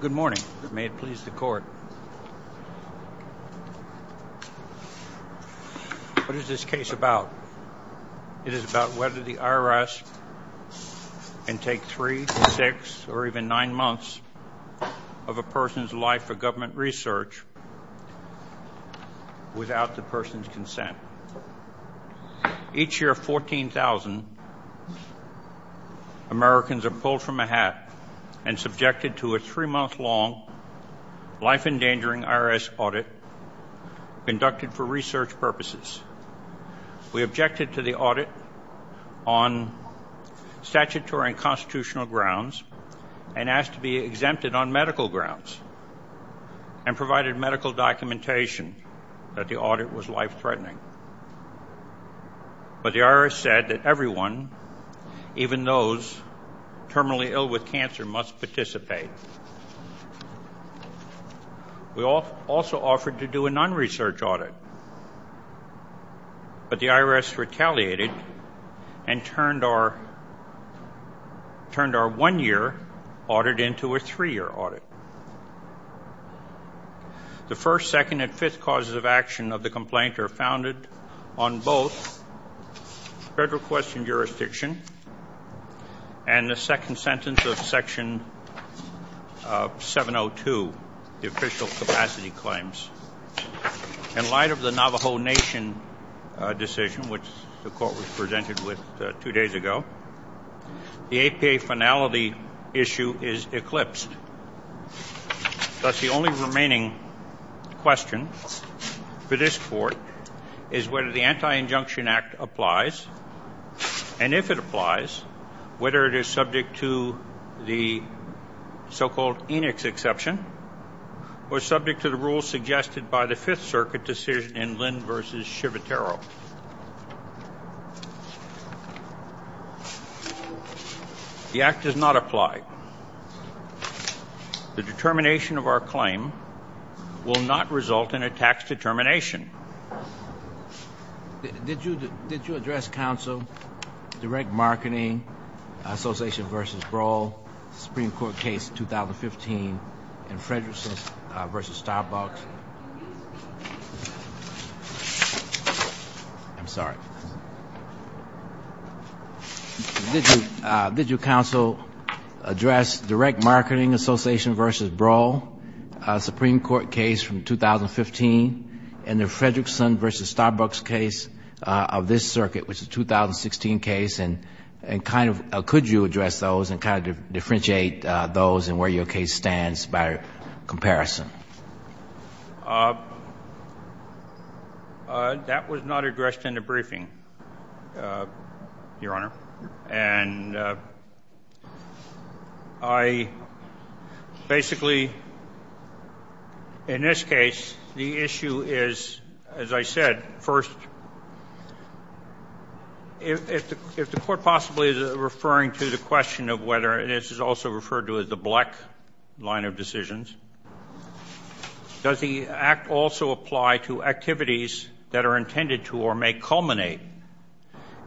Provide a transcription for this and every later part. Good morning. May it please the court. What is this case about? It is about whether the IRS can take three, six, or even nine months of a person's life for government research without the person's consent. Each year, 14,000 Americans are pulled from a hat and subjected to a three-month-long, life-endangering IRS audit conducted for research purposes. We objected to the audit on statutory and constitutional grounds and asked to be exempted on medical grounds and provided medical documentation that the audit was life-threatening. But the IRS said that everyone, even those terminally ill with cancer, must participate. We also offered to do a non-research audit, but the IRS retaliated and turned our one-year audit into a three-year audit. The first, second, and fifth causes of action of the complaint are founded on both federal question jurisdiction and the second sentence of Section 702, the official capacity claims. In light of the Navajo Nation decision, which the court was presented with two days ago, the APA finality issue is eclipsed. Thus, the only remaining question for this Court is whether the Anti-Injunction Act applies, and if it applies, whether it is subject to the so-called Enix Exception or subject to the rules suggested by the Fifth Circuit decision in Lynn v. Shivatero. The Act does not apply. The determination of our claim will not result in a tax determination. Did you address, Counsel, Direct Marketing Association v. Brawl, Supreme Court case 2015 in Frederickson v. Starbucks? I'm sorry. Did you, Counsel, address Direct Marketing Association v. Brawl, Supreme Court case from 2015, and the Frederickson v. Starbucks case of this circuit, which is a 2016 case? And kind of could you address those and kind of differentiate those and where your case stands by comparison? That was not addressed in the briefing, Your Honor, and I basically, in this case, the issue is, as I said, first, if the Court possibly is referring to the question of whether, and this is also referred to as the Black line of decisions, does the Act also apply to activities that are intended to or may culminate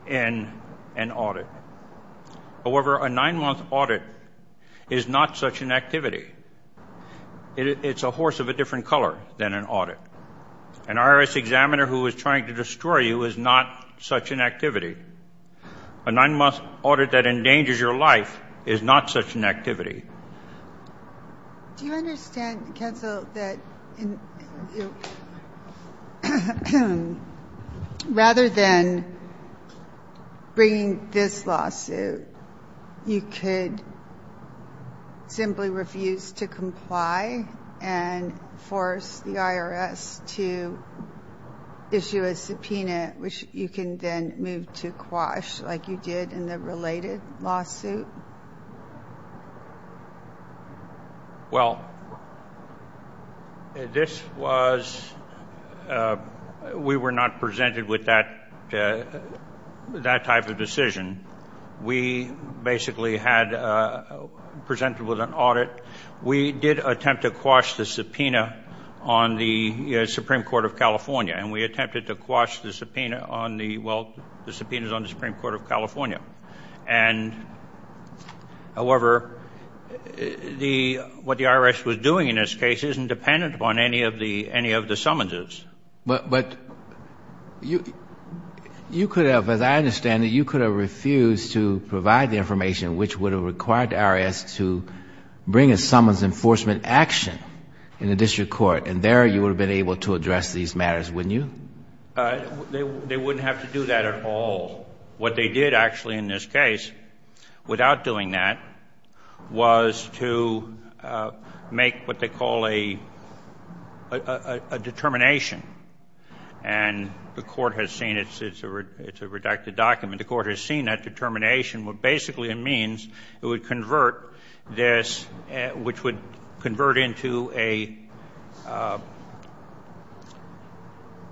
in an audit? However, a nine-month audit is not such an activity. It's a horse of a different color than an audit. An IRS examiner who is trying to destroy you is not such an activity. A nine-month audit that endangers your life is not such an activity. Do you understand, Counsel, that rather than bringing this lawsuit, you could simply refuse to comply and force the IRS to issue a subpoena, which you can then move to quash, like you did in the related lawsuit? Well, this was, we were not presented with that type of decision. We basically had, presented with an audit. We did attempt to quash the subpoena on the Supreme Court of California, and we attempted to quash the subpoena on the, well, the subpoenas on the Supreme Court of California. And, however, the, what the IRS was doing in this case isn't dependent upon any of the, any of the summonses. But, but you, you could have, as I understand it, you could have refused to provide the information which would have required the IRS to bring a summons enforcement action in the district court, and there you would have been able to address these matters, wouldn't you? They wouldn't have to do that at all. What they did, actually, in this case, without doing that, was to make what they call a, a determination. And the court has seen it. It's a, it's a redacted document. The court has seen that determination. What basically it means, it would convert this, which would convert into a,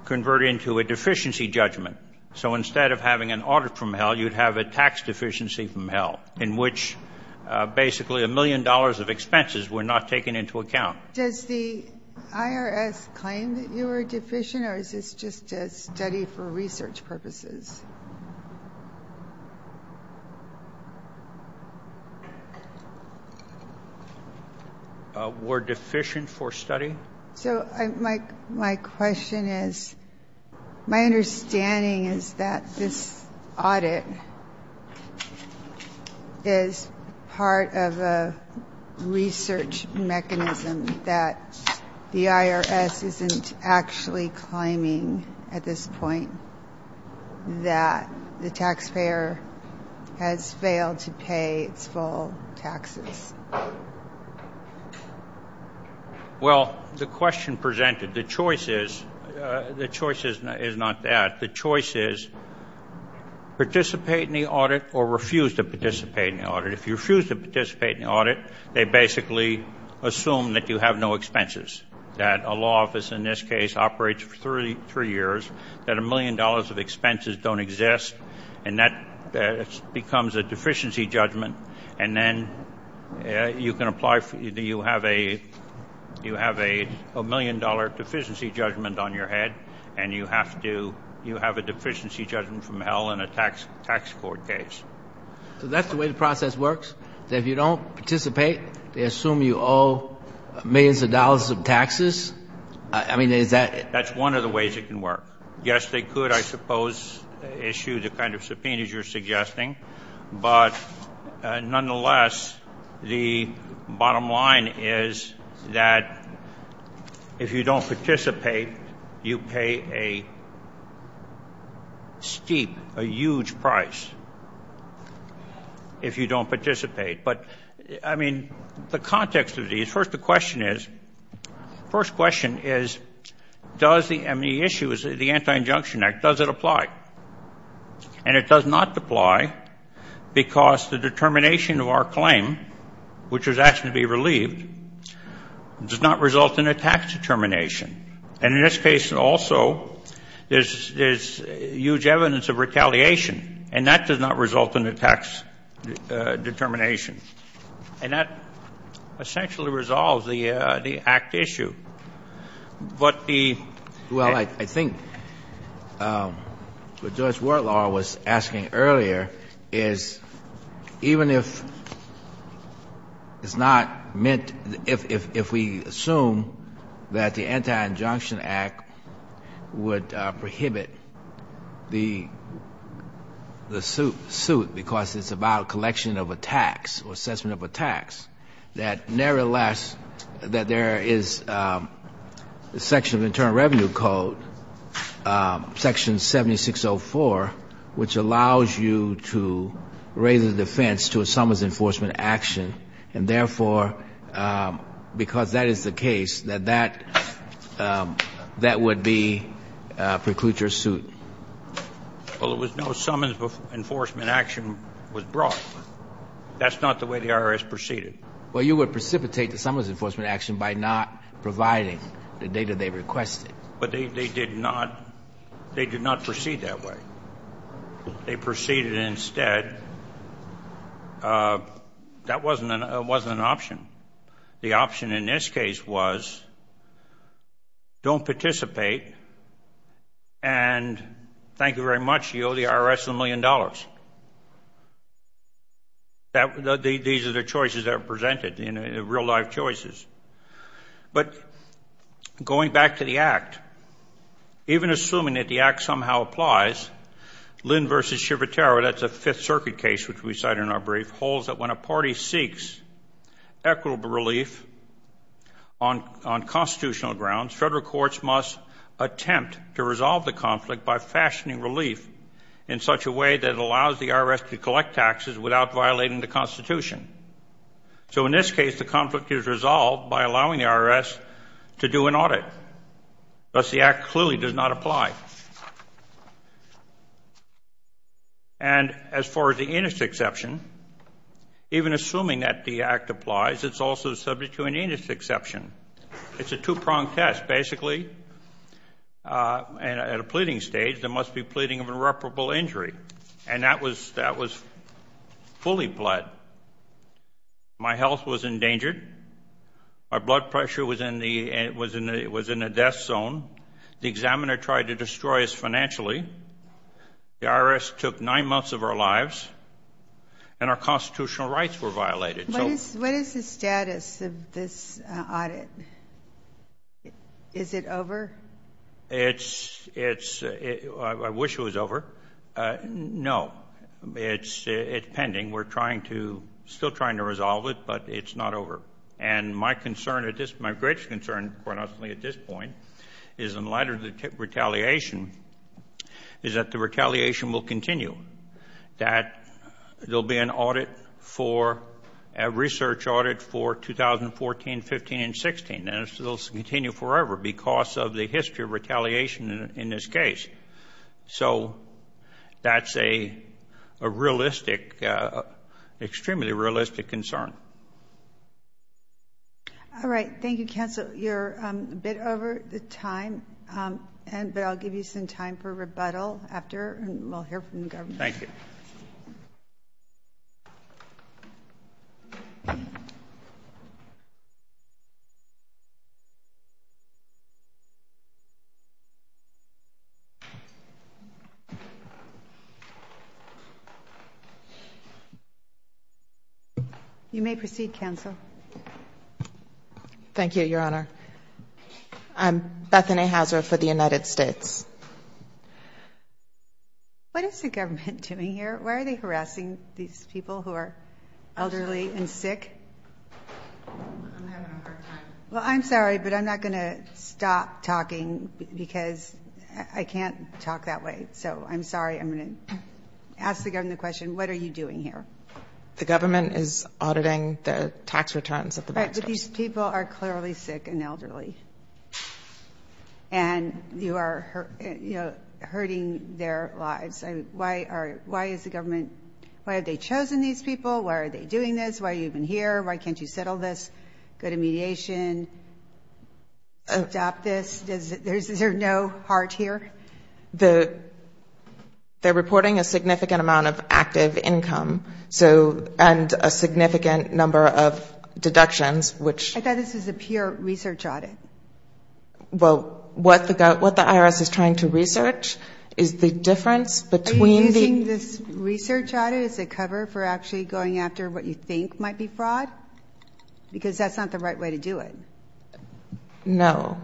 convert into a deficiency judgment. So instead of having an audit from hell, you'd have a tax deficiency from hell, in which basically a million dollars of expenses were not taken into account. Does the IRS claim that you are deficient, or is this just a study for research purposes? We're deficient for study. So my, my question is, my understanding is that this audit is part of a research mechanism that the IRS isn't actually claiming at this point that the taxpayer has failed to pay its full taxes. Well, the question presented, the choice is, the choice is not that. The choice is participate in the audit or refuse to participate in the audit. If you refuse to participate in the audit, they basically assume that you have no expenses, that a law office in this case operates for three years, that a million dollars of expenses don't exist, and that becomes a deficiency judgment. And then you can apply for, you have a, you have a million dollar deficiency judgment on your head, and you have to, you have a deficiency judgment from hell in a tax court case. So that's the way the process works? That if you don't participate, they assume you owe millions of dollars of taxes? I mean, is that? That's one of the ways it can work. Yes, they could, I suppose, issue the kind of subpoenas you're suggesting. But nonetheless, the bottom line is that if you don't participate, you pay a steep, a huge price if you don't participate. But, I mean, the context of these, first the question is, first question is, does the issue, the Anti-Injunction Act, does it apply? And it does not apply because the determination of our claim, which was asked to be relieved, does not result in a tax determination. And in this case also, there's huge evidence of retaliation, and that does not result in a tax determination. And that essentially resolves the Act issue. But the ---- the Anti-Injunction Act would prohibit the suit because it's about collection of a tax or assessment of a tax, that nevertheless that there is a section of the Internal Revenue Code, Section 7604, which allows you to raise a defense to someone's enforcement action. And therefore, because that is the case, that that would preclude your suit. Well, there was no summons before enforcement action was brought. That's not the way the IRS proceeded. Well, you would precipitate the summons enforcement action by not providing the data they requested. But they did not proceed that way. They proceeded instead. That wasn't an option. The option in this case was don't participate and thank you very much. You owe the IRS a million dollars. These are the choices that are presented, real-life choices. But going back to the Act, even assuming that the Act somehow applies, Lynn v. Civitaro, that's a Fifth Circuit case which we cited in our brief, holds that when a party seeks equitable relief on constitutional grounds, federal courts must attempt to resolve the conflict by fashioning relief in such a way that it allows the IRS to collect taxes without violating the Constitution. So in this case, the conflict is resolved by allowing the IRS to do an audit. Thus, the Act clearly does not apply. And as far as the inest exception, even assuming that the Act applies, it's also subject to an inest exception. It's a two-pronged test. Basically, at a pleading stage, there must be pleading of irreparable injury. And that was fully pled. My health was endangered. My blood pressure was in the death zone. The examiner tried to destroy us financially. The IRS took nine months of our lives, and our constitutional rights were violated. What is the status of this audit? Is it over? It's – I wish it was over. No, it's pending. We're trying to – still trying to resolve it, but it's not over. And my concern at this – my greatest concern at this point is, in light of the retaliation, is that the retaliation will continue, that there will be an audit for – a research audit for 2014, 15, and 16, and it will continue forever because of the history of retaliation in this case. So that's a realistic – extremely realistic concern. All right. Thank you, counsel. You're a bit over the time, but I'll give you some time for rebuttal after, and we'll hear from the governor. Thank you. Thank you. You may proceed, counsel. Thank you, Your Honor. I'm Bethany Hauser for the United States. What is the government doing here? Why are they harassing these people who are elderly and sick? I'm having a hard time. Well, I'm sorry, but I'm not going to stop talking because I can't talk that way. So I'm sorry. I'm going to ask the governor the question, what are you doing here? The government is auditing the tax returns at the bank. But these people are clearly sick and elderly, and you are hurting their lives. Why are – why is the government – why have they chosen these people? Why are they doing this? Why are you even here? Why can't you settle this? Go to mediation, adopt this. Is there no heart here? They're reporting a significant amount of active income, and a significant number of deductions, which – I thought this was a pure research audit. Well, what the IRS is trying to research is the difference between the – Are you using this research audit as a cover for actually going after what you think might be fraud? Because that's not the right way to do it. No.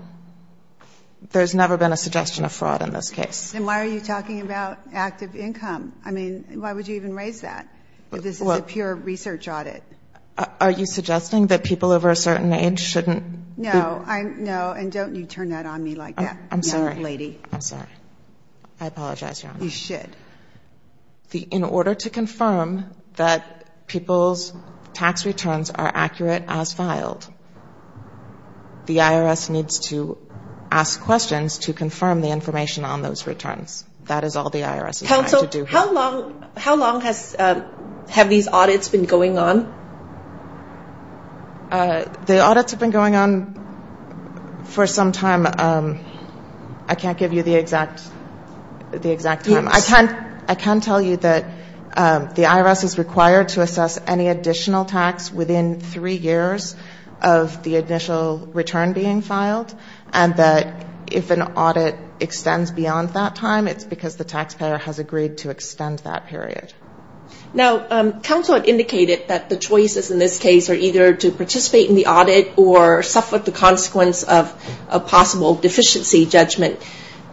There's never been a suggestion of fraud in this case. Then why are you talking about active income? I mean, why would you even raise that if this is a pure research audit? Are you suggesting that people over a certain age shouldn't be – No. No, and don't you turn that on me like that, young lady. I'm sorry. I'm sorry. I apologize, Your Honor. You should. In order to confirm that people's tax returns are accurate as filed, the IRS needs to ask questions to confirm the information on those returns. That is all the IRS is trying to do here. Counsel, how long have these audits been going on? The audits have been going on for some time. I can't give you the exact time. I can tell you that the IRS is required to assess any additional tax within three years of the initial return being filed, and that if an audit extends beyond that time, it's because the taxpayer has agreed to extend that period. Now, counsel had indicated that the choices in this case are either to participate in the audit or suffer the consequence of a possible deficiency judgment.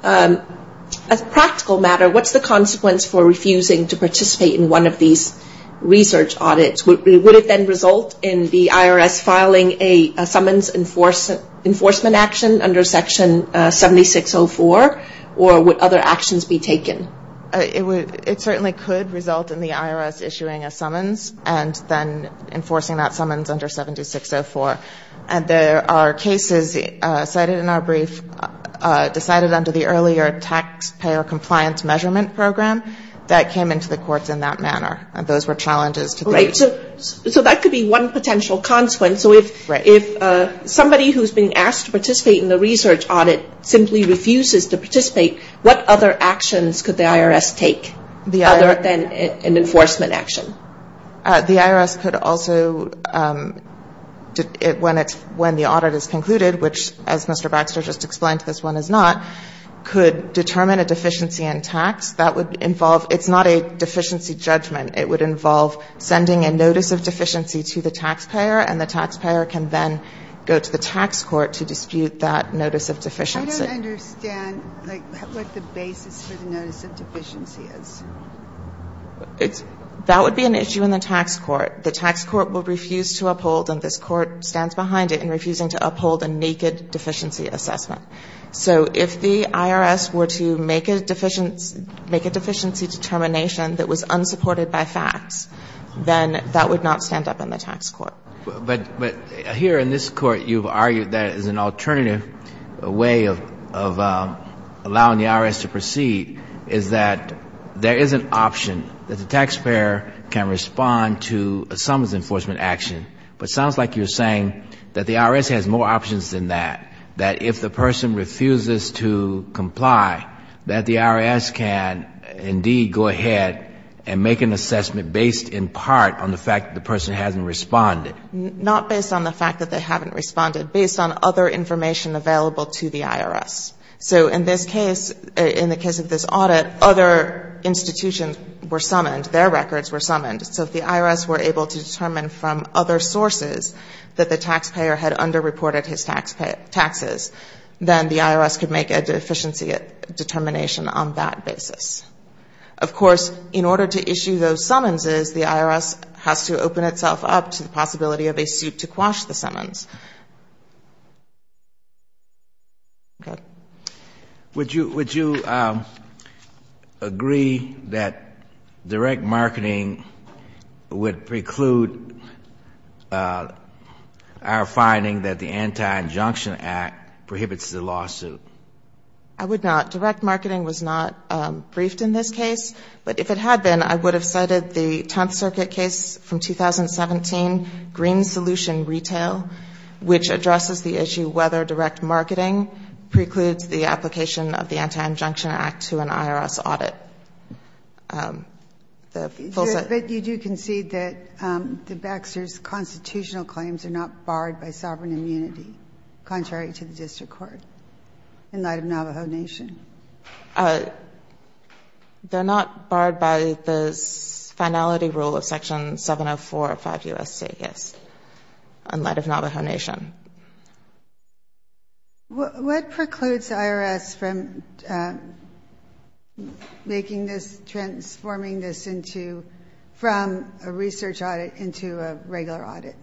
As a practical matter, what's the consequence for refusing to participate in one of these research audits? Would it then result in the IRS filing a summons enforcement action under Section 7604, or would other actions be taken? It certainly could result in the IRS issuing a summons and then enforcing that summons under 7604. There are cases cited in our brief decided under the earlier taxpayer compliance measurement program that came into the courts in that manner, and those were challenges. So that could be one potential consequence. If somebody who is being asked to participate in the research audit simply refuses to participate, what other actions could the IRS take other than an enforcement action? The IRS could also, when the audit is concluded, which as Mr. Baxter just explained, this one is not, could determine a deficiency in tax. That would involve – it's not a deficiency judgment. It would involve sending a notice of deficiency to the taxpayer, and the taxpayer can then go to the tax court to dispute that notice of deficiency. I don't understand, like, what the basis for the notice of deficiency is. That would be an issue in the tax court. The tax court would refuse to uphold, and this court stands behind it, in refusing to uphold a naked deficiency assessment. So if the IRS were to make a deficiency determination that was unsupported by facts, then that would not stand up in the tax court. But here in this court you've argued that as an alternative way of allowing the IRS to proceed is that there is an option that the taxpayer can respond to some enforcement action. But it sounds like you're saying that the IRS has more options than that, that if the person refuses to comply, that the IRS can indeed go ahead and make an assessment based in part on the fact that the person hasn't responded. Not based on the fact that they haven't responded, based on other information available to the IRS. So in this case, in the case of this audit, other institutions were summoned. Their records were summoned. So if the IRS were able to determine from other sources that the taxpayer had underreported his taxes, then the IRS could make a deficiency determination on that basis. Of course, in order to issue those summonses, the IRS has to open itself up to the possibility of a suit to quash the summons. Would you agree that direct marketing would preclude our finding that the Anti-Injunction Act prohibits the lawsuit? I would not. Direct marketing was not briefed in this case. But if it had been, I would have cited the Tenth Circuit case from 2017, Green Solution Retail. Which addresses the issue whether direct marketing precludes the application of the Anti-Injunction Act to an IRS audit. But you do concede that the Baxter's constitutional claims are not barred by sovereign immunity, contrary to the district court, in light of Navajo Nation? They're not barred by the finality rule of Section 704 of 5 U.S.C.S., in light of Navajo Nation. What precludes the IRS from making this, transforming this from a research audit into a regular audit?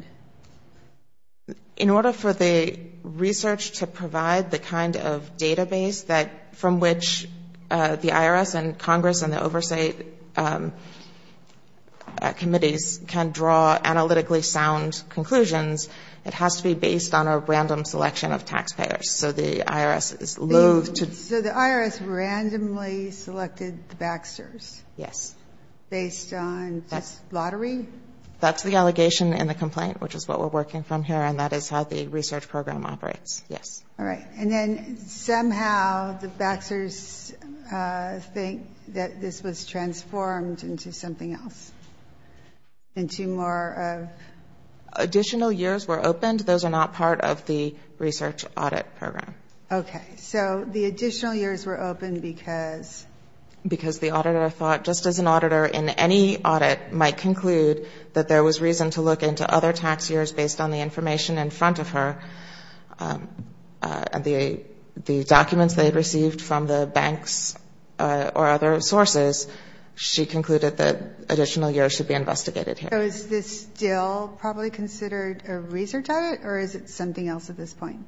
In order for the research to provide the kind of database that, from which the IRS and Congress and the oversight committees can draw analytically sound conclusions, it has to be based on a random selection of taxpayers. So the IRS is loath to So the IRS randomly selected the Baxter's? Yes. Based on just lottery? That's the allegation in the complaint, which is what we're working from here, and that is how the research program operates. Yes. All right. And then somehow the Baxter's think that this was transformed into something else, into more of? Additional years were opened. Those are not part of the research audit program. Okay. So the additional years were opened because? Because the auditor thought, just as an auditor in any audit might conclude that there was reason to look into other tax years based on the information in front of her, the documents they had received from the banks or other sources, she concluded that additional years should be investigated here. So is this still probably considered a research audit, or is it something else at this point?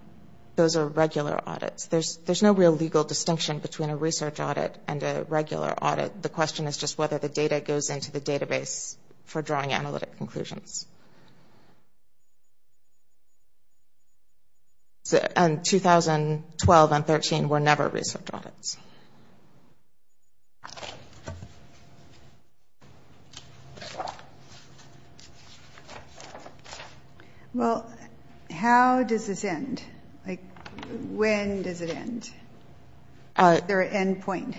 Those are regular audits. There's no real legal distinction between a research audit and a regular audit. The question is just whether the data goes into the database for drawing analytic conclusions. And 2012 and 2013 were never research audits. Well, how does this end? When does it end? Is there an end point?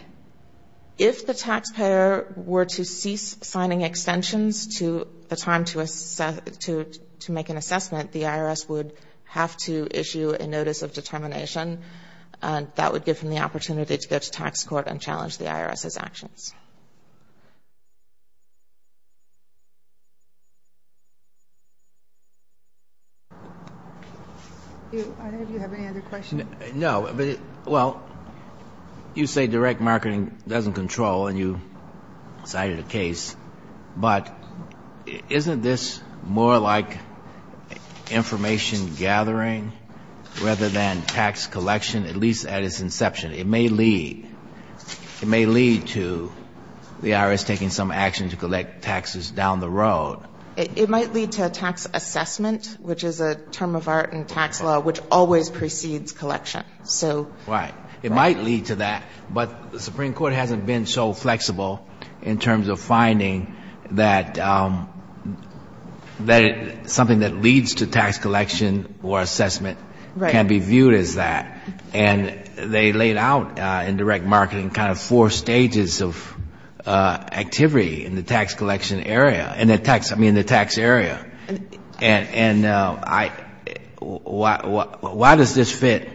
If the taxpayer were to cease signing extensions to the time to make an assessment, the IRS would have to issue a notice of determination, and that would give them the opportunity to go to tax court and challenge the IRS's actions. I don't know if you have any other questions. No. Well, you say direct marketing doesn't control, and you cited a case, but isn't this more like information gathering rather than tax collection, at least at its inception? It may lead. It may lead to the IRS taking some action to collect taxes down the road. It might lead to a tax assessment, which is a term of art in tax law which always precedes collection. Right. It might lead to that. But the Supreme Court hasn't been so flexible in terms of finding that something that leads to tax collection or assessment can be viewed as that. And they laid out in direct marketing kind of four stages of activity in the tax collection area, I mean, the tax area. And why does this fit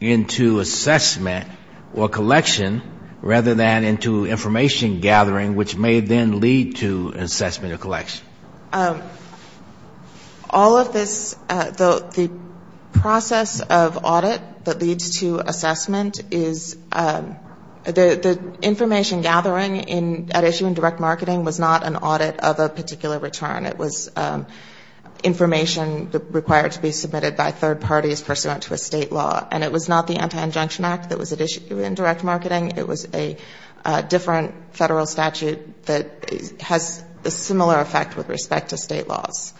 into assessment or collection rather than into information gathering, which may then lead to assessment or collection? All of this, the process of audit that leads to assessment is, the information gathering at issue in direct marketing was not an audit of a particular return. It was information required to be submitted by third parties pursuant to a state law. And it was not the Anti-Injunction Act that was at issue in direct marketing. It was a different federal statute that has a similar effect with respect to state laws.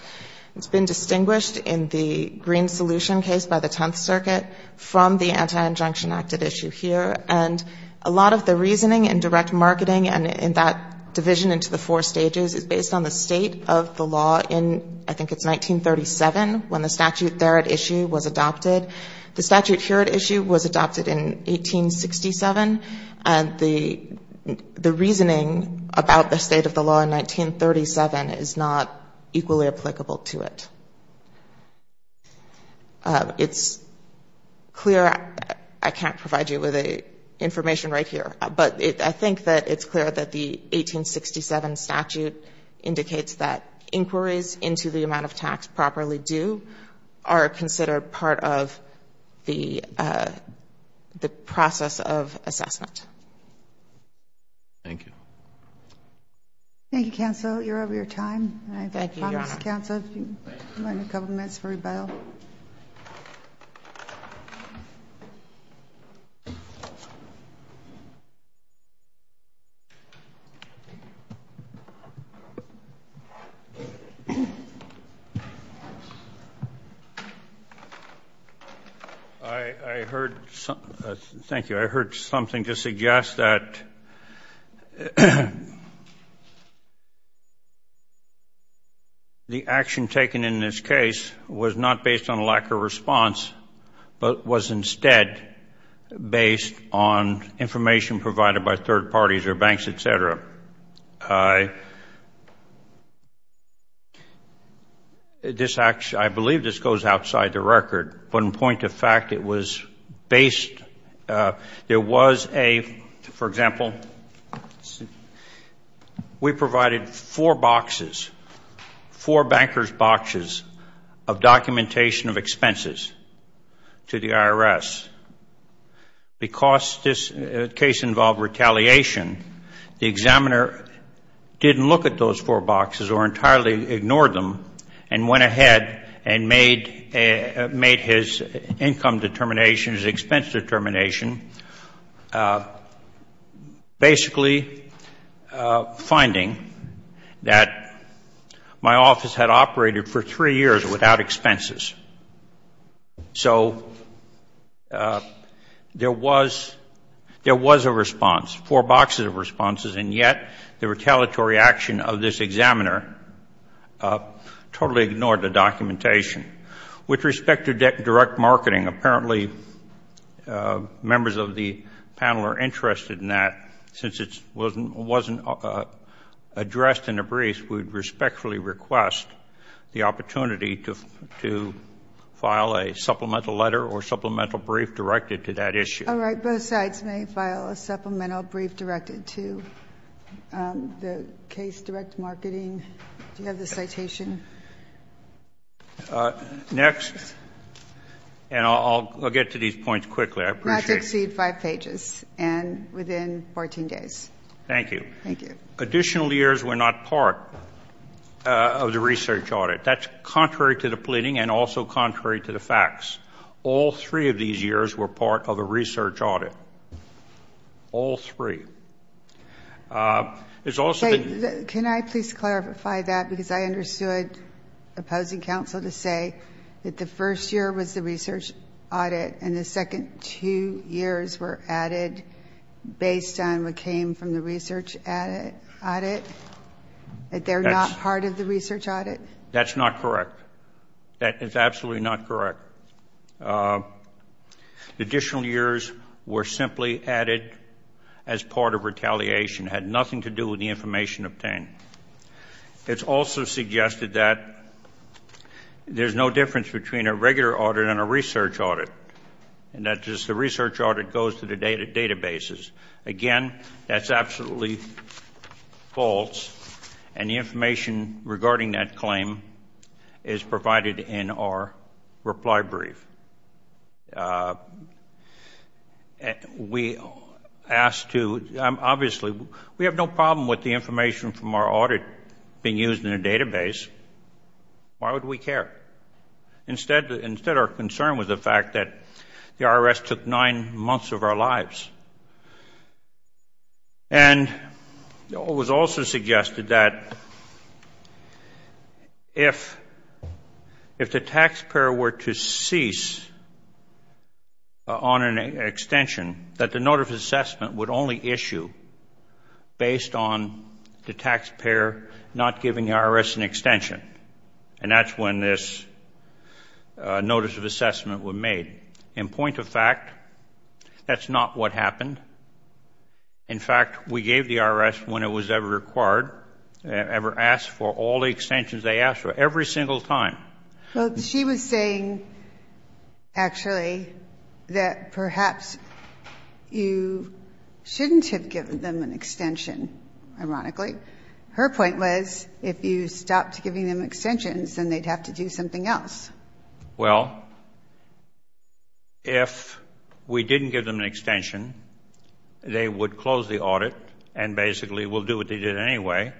It's been distinguished in the Green Solution case by the Tenth Circuit from the Anti-Injunction Act at issue here. And a lot of the reasoning in direct marketing and in that division into the four stages is based on the state of the law in, I think it's 1937 when the statute there at issue was adopted. The statute here at issue was adopted in 1867. The reasoning about the state of the law in 1937 is not equally applicable to it. It's clear, I can't provide you with the information right here, but I think that it's clear that the 1867 statute indicates that inquiries into the amount of tax properly due are considered part of the process of assessment. Thank you. Thank you, counsel. You're over your time. Thank you. I heard, thank you, I heard something to suggest that the action taken in this case was not based on lack of response, but was instead based on information provided by third parties or banks, et cetera. I believe this goes outside the record, but in point of fact, it was based, there was a, for example, we provided four boxes, four banker's boxes of documentation of expenses to the IRS. Because this case involved retaliation, the examiner didn't look at those four boxes or entirely ignored them and went ahead and made his income determination, his expense determination, basically finding that my office had operated for three years without expenses. So there was a response, four boxes of responses, and yet the retaliatory action of this examiner totally ignored the documentation. With respect to direct marketing, apparently members of the panel are interested in that, since it wasn't addressed in a brief, we would respectfully request the opportunity to file a supplemental letter or supplemental brief directed to that issue. All right. Both sides may file a supplemental brief directed to the case direct marketing. Do you have the citation? Next, and I'll get to these points quickly. Not to exceed five pages and within 14 days. Thank you. Additional years were not part of the research audit. That's contrary to the pleading and also contrary to the facts. All three of these years were part of a research audit. All three. Can I please clarify that, because I understood opposing counsel to say that the first year was the research audit and the second two years were added based on what came from the research audit, that they're not part of the research audit? That's not correct. That is absolutely not correct. Additional years were simply added as part of retaliation, had nothing to do with the information obtained. It's also suggested that there's no difference between a regular audit and a research audit and that just the research audit goes to the databases. Again, that's absolutely false, and the information regarding that claim is provided in our reply brief. We asked to, obviously, we have no problem with the information from our audit being used in a database. Why would we care? Instead, our concern was the fact that the IRS took nine months of our lives. And it was also suggested that if the taxpayer were to cease on an extension, that the notice of assessment would only issue based on the taxpayer not giving the IRS an extension. And that's when this notice of assessment was made. In point of fact, that's not what happened. In fact, we gave the IRS, when it was ever required, ever asked for all the extensions they asked for, every single time. Well, she was saying, actually, that perhaps you shouldn't have given them an extension, ironically. Her point was, if you stopped giving them extensions, then they'd have to do something else. Well, if we didn't give them an extension, they would close the audit and basically will do what they did anyway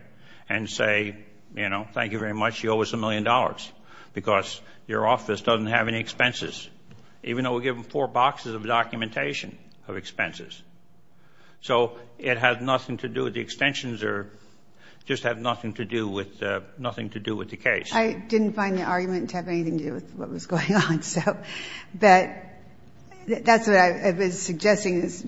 and say, you know, thank you very much, you owe us a million dollars, because your office doesn't have any expenses, even though we give them four boxes of documentation of expenses. So it had nothing to do with the extensions or just had nothing to do with the case. I didn't find the argument to have anything to do with what was going on. But that's what I was suggesting, is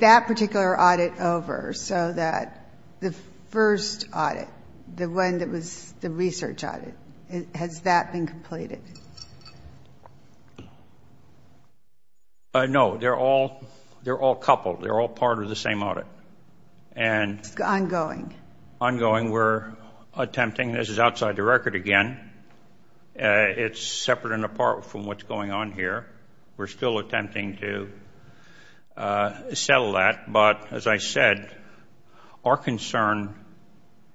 that particular audit over so that the first audit, the one that was the research audit, has that been completed? No, they're all coupled. They're all part of the same audit. It's ongoing. Ongoing. We're attempting. This is outside the record again. It's separate and apart from what's going on here. We're still attempting to settle that. But as I said, our concern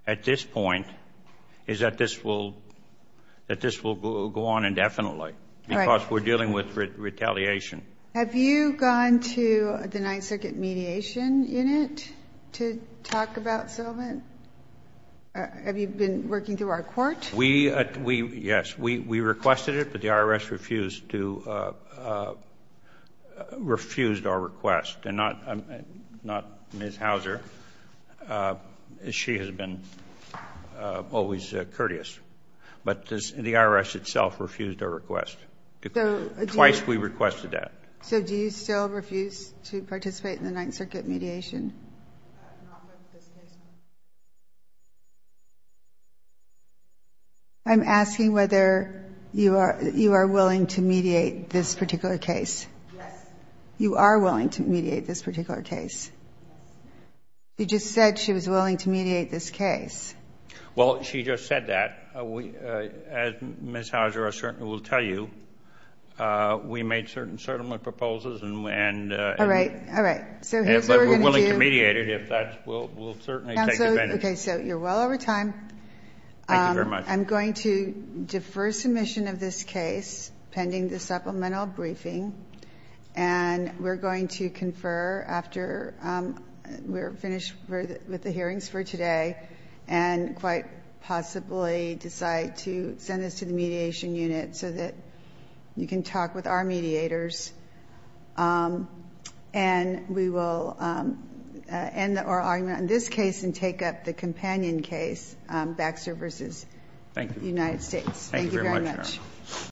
at this point is that this will go on indefinitely, because we're dealing with retaliation. Have you gone to the Ninth Circuit Mediation Unit to talk about settlement? Have you been working through our court? Yes. We requested it, but the IRS refused our request. And not Ms. Hauser. She has been always courteous. But the IRS itself refused our request. Twice we requested that. So do you still refuse to participate in the Ninth Circuit mediation? I'm asking whether you are willing to mediate this particular case. Yes. You are willing to mediate this particular case. You just said she was willing to mediate this case. Well, she just said that. As Ms. Hauser will tell you, we made certain settlement proposals. All right. We're willing to mediate it if that will certainly take advantage. You're well over time. I'm going to defer submission of this case pending the supplemental briefing. We're going to confer after we're finished with the hearings for today and quite possibly decide to send this to the mediation unit so that you can talk with our mediators. We will end our argument on this case and take up the companion case, Baxter v. United States. Thank you very much.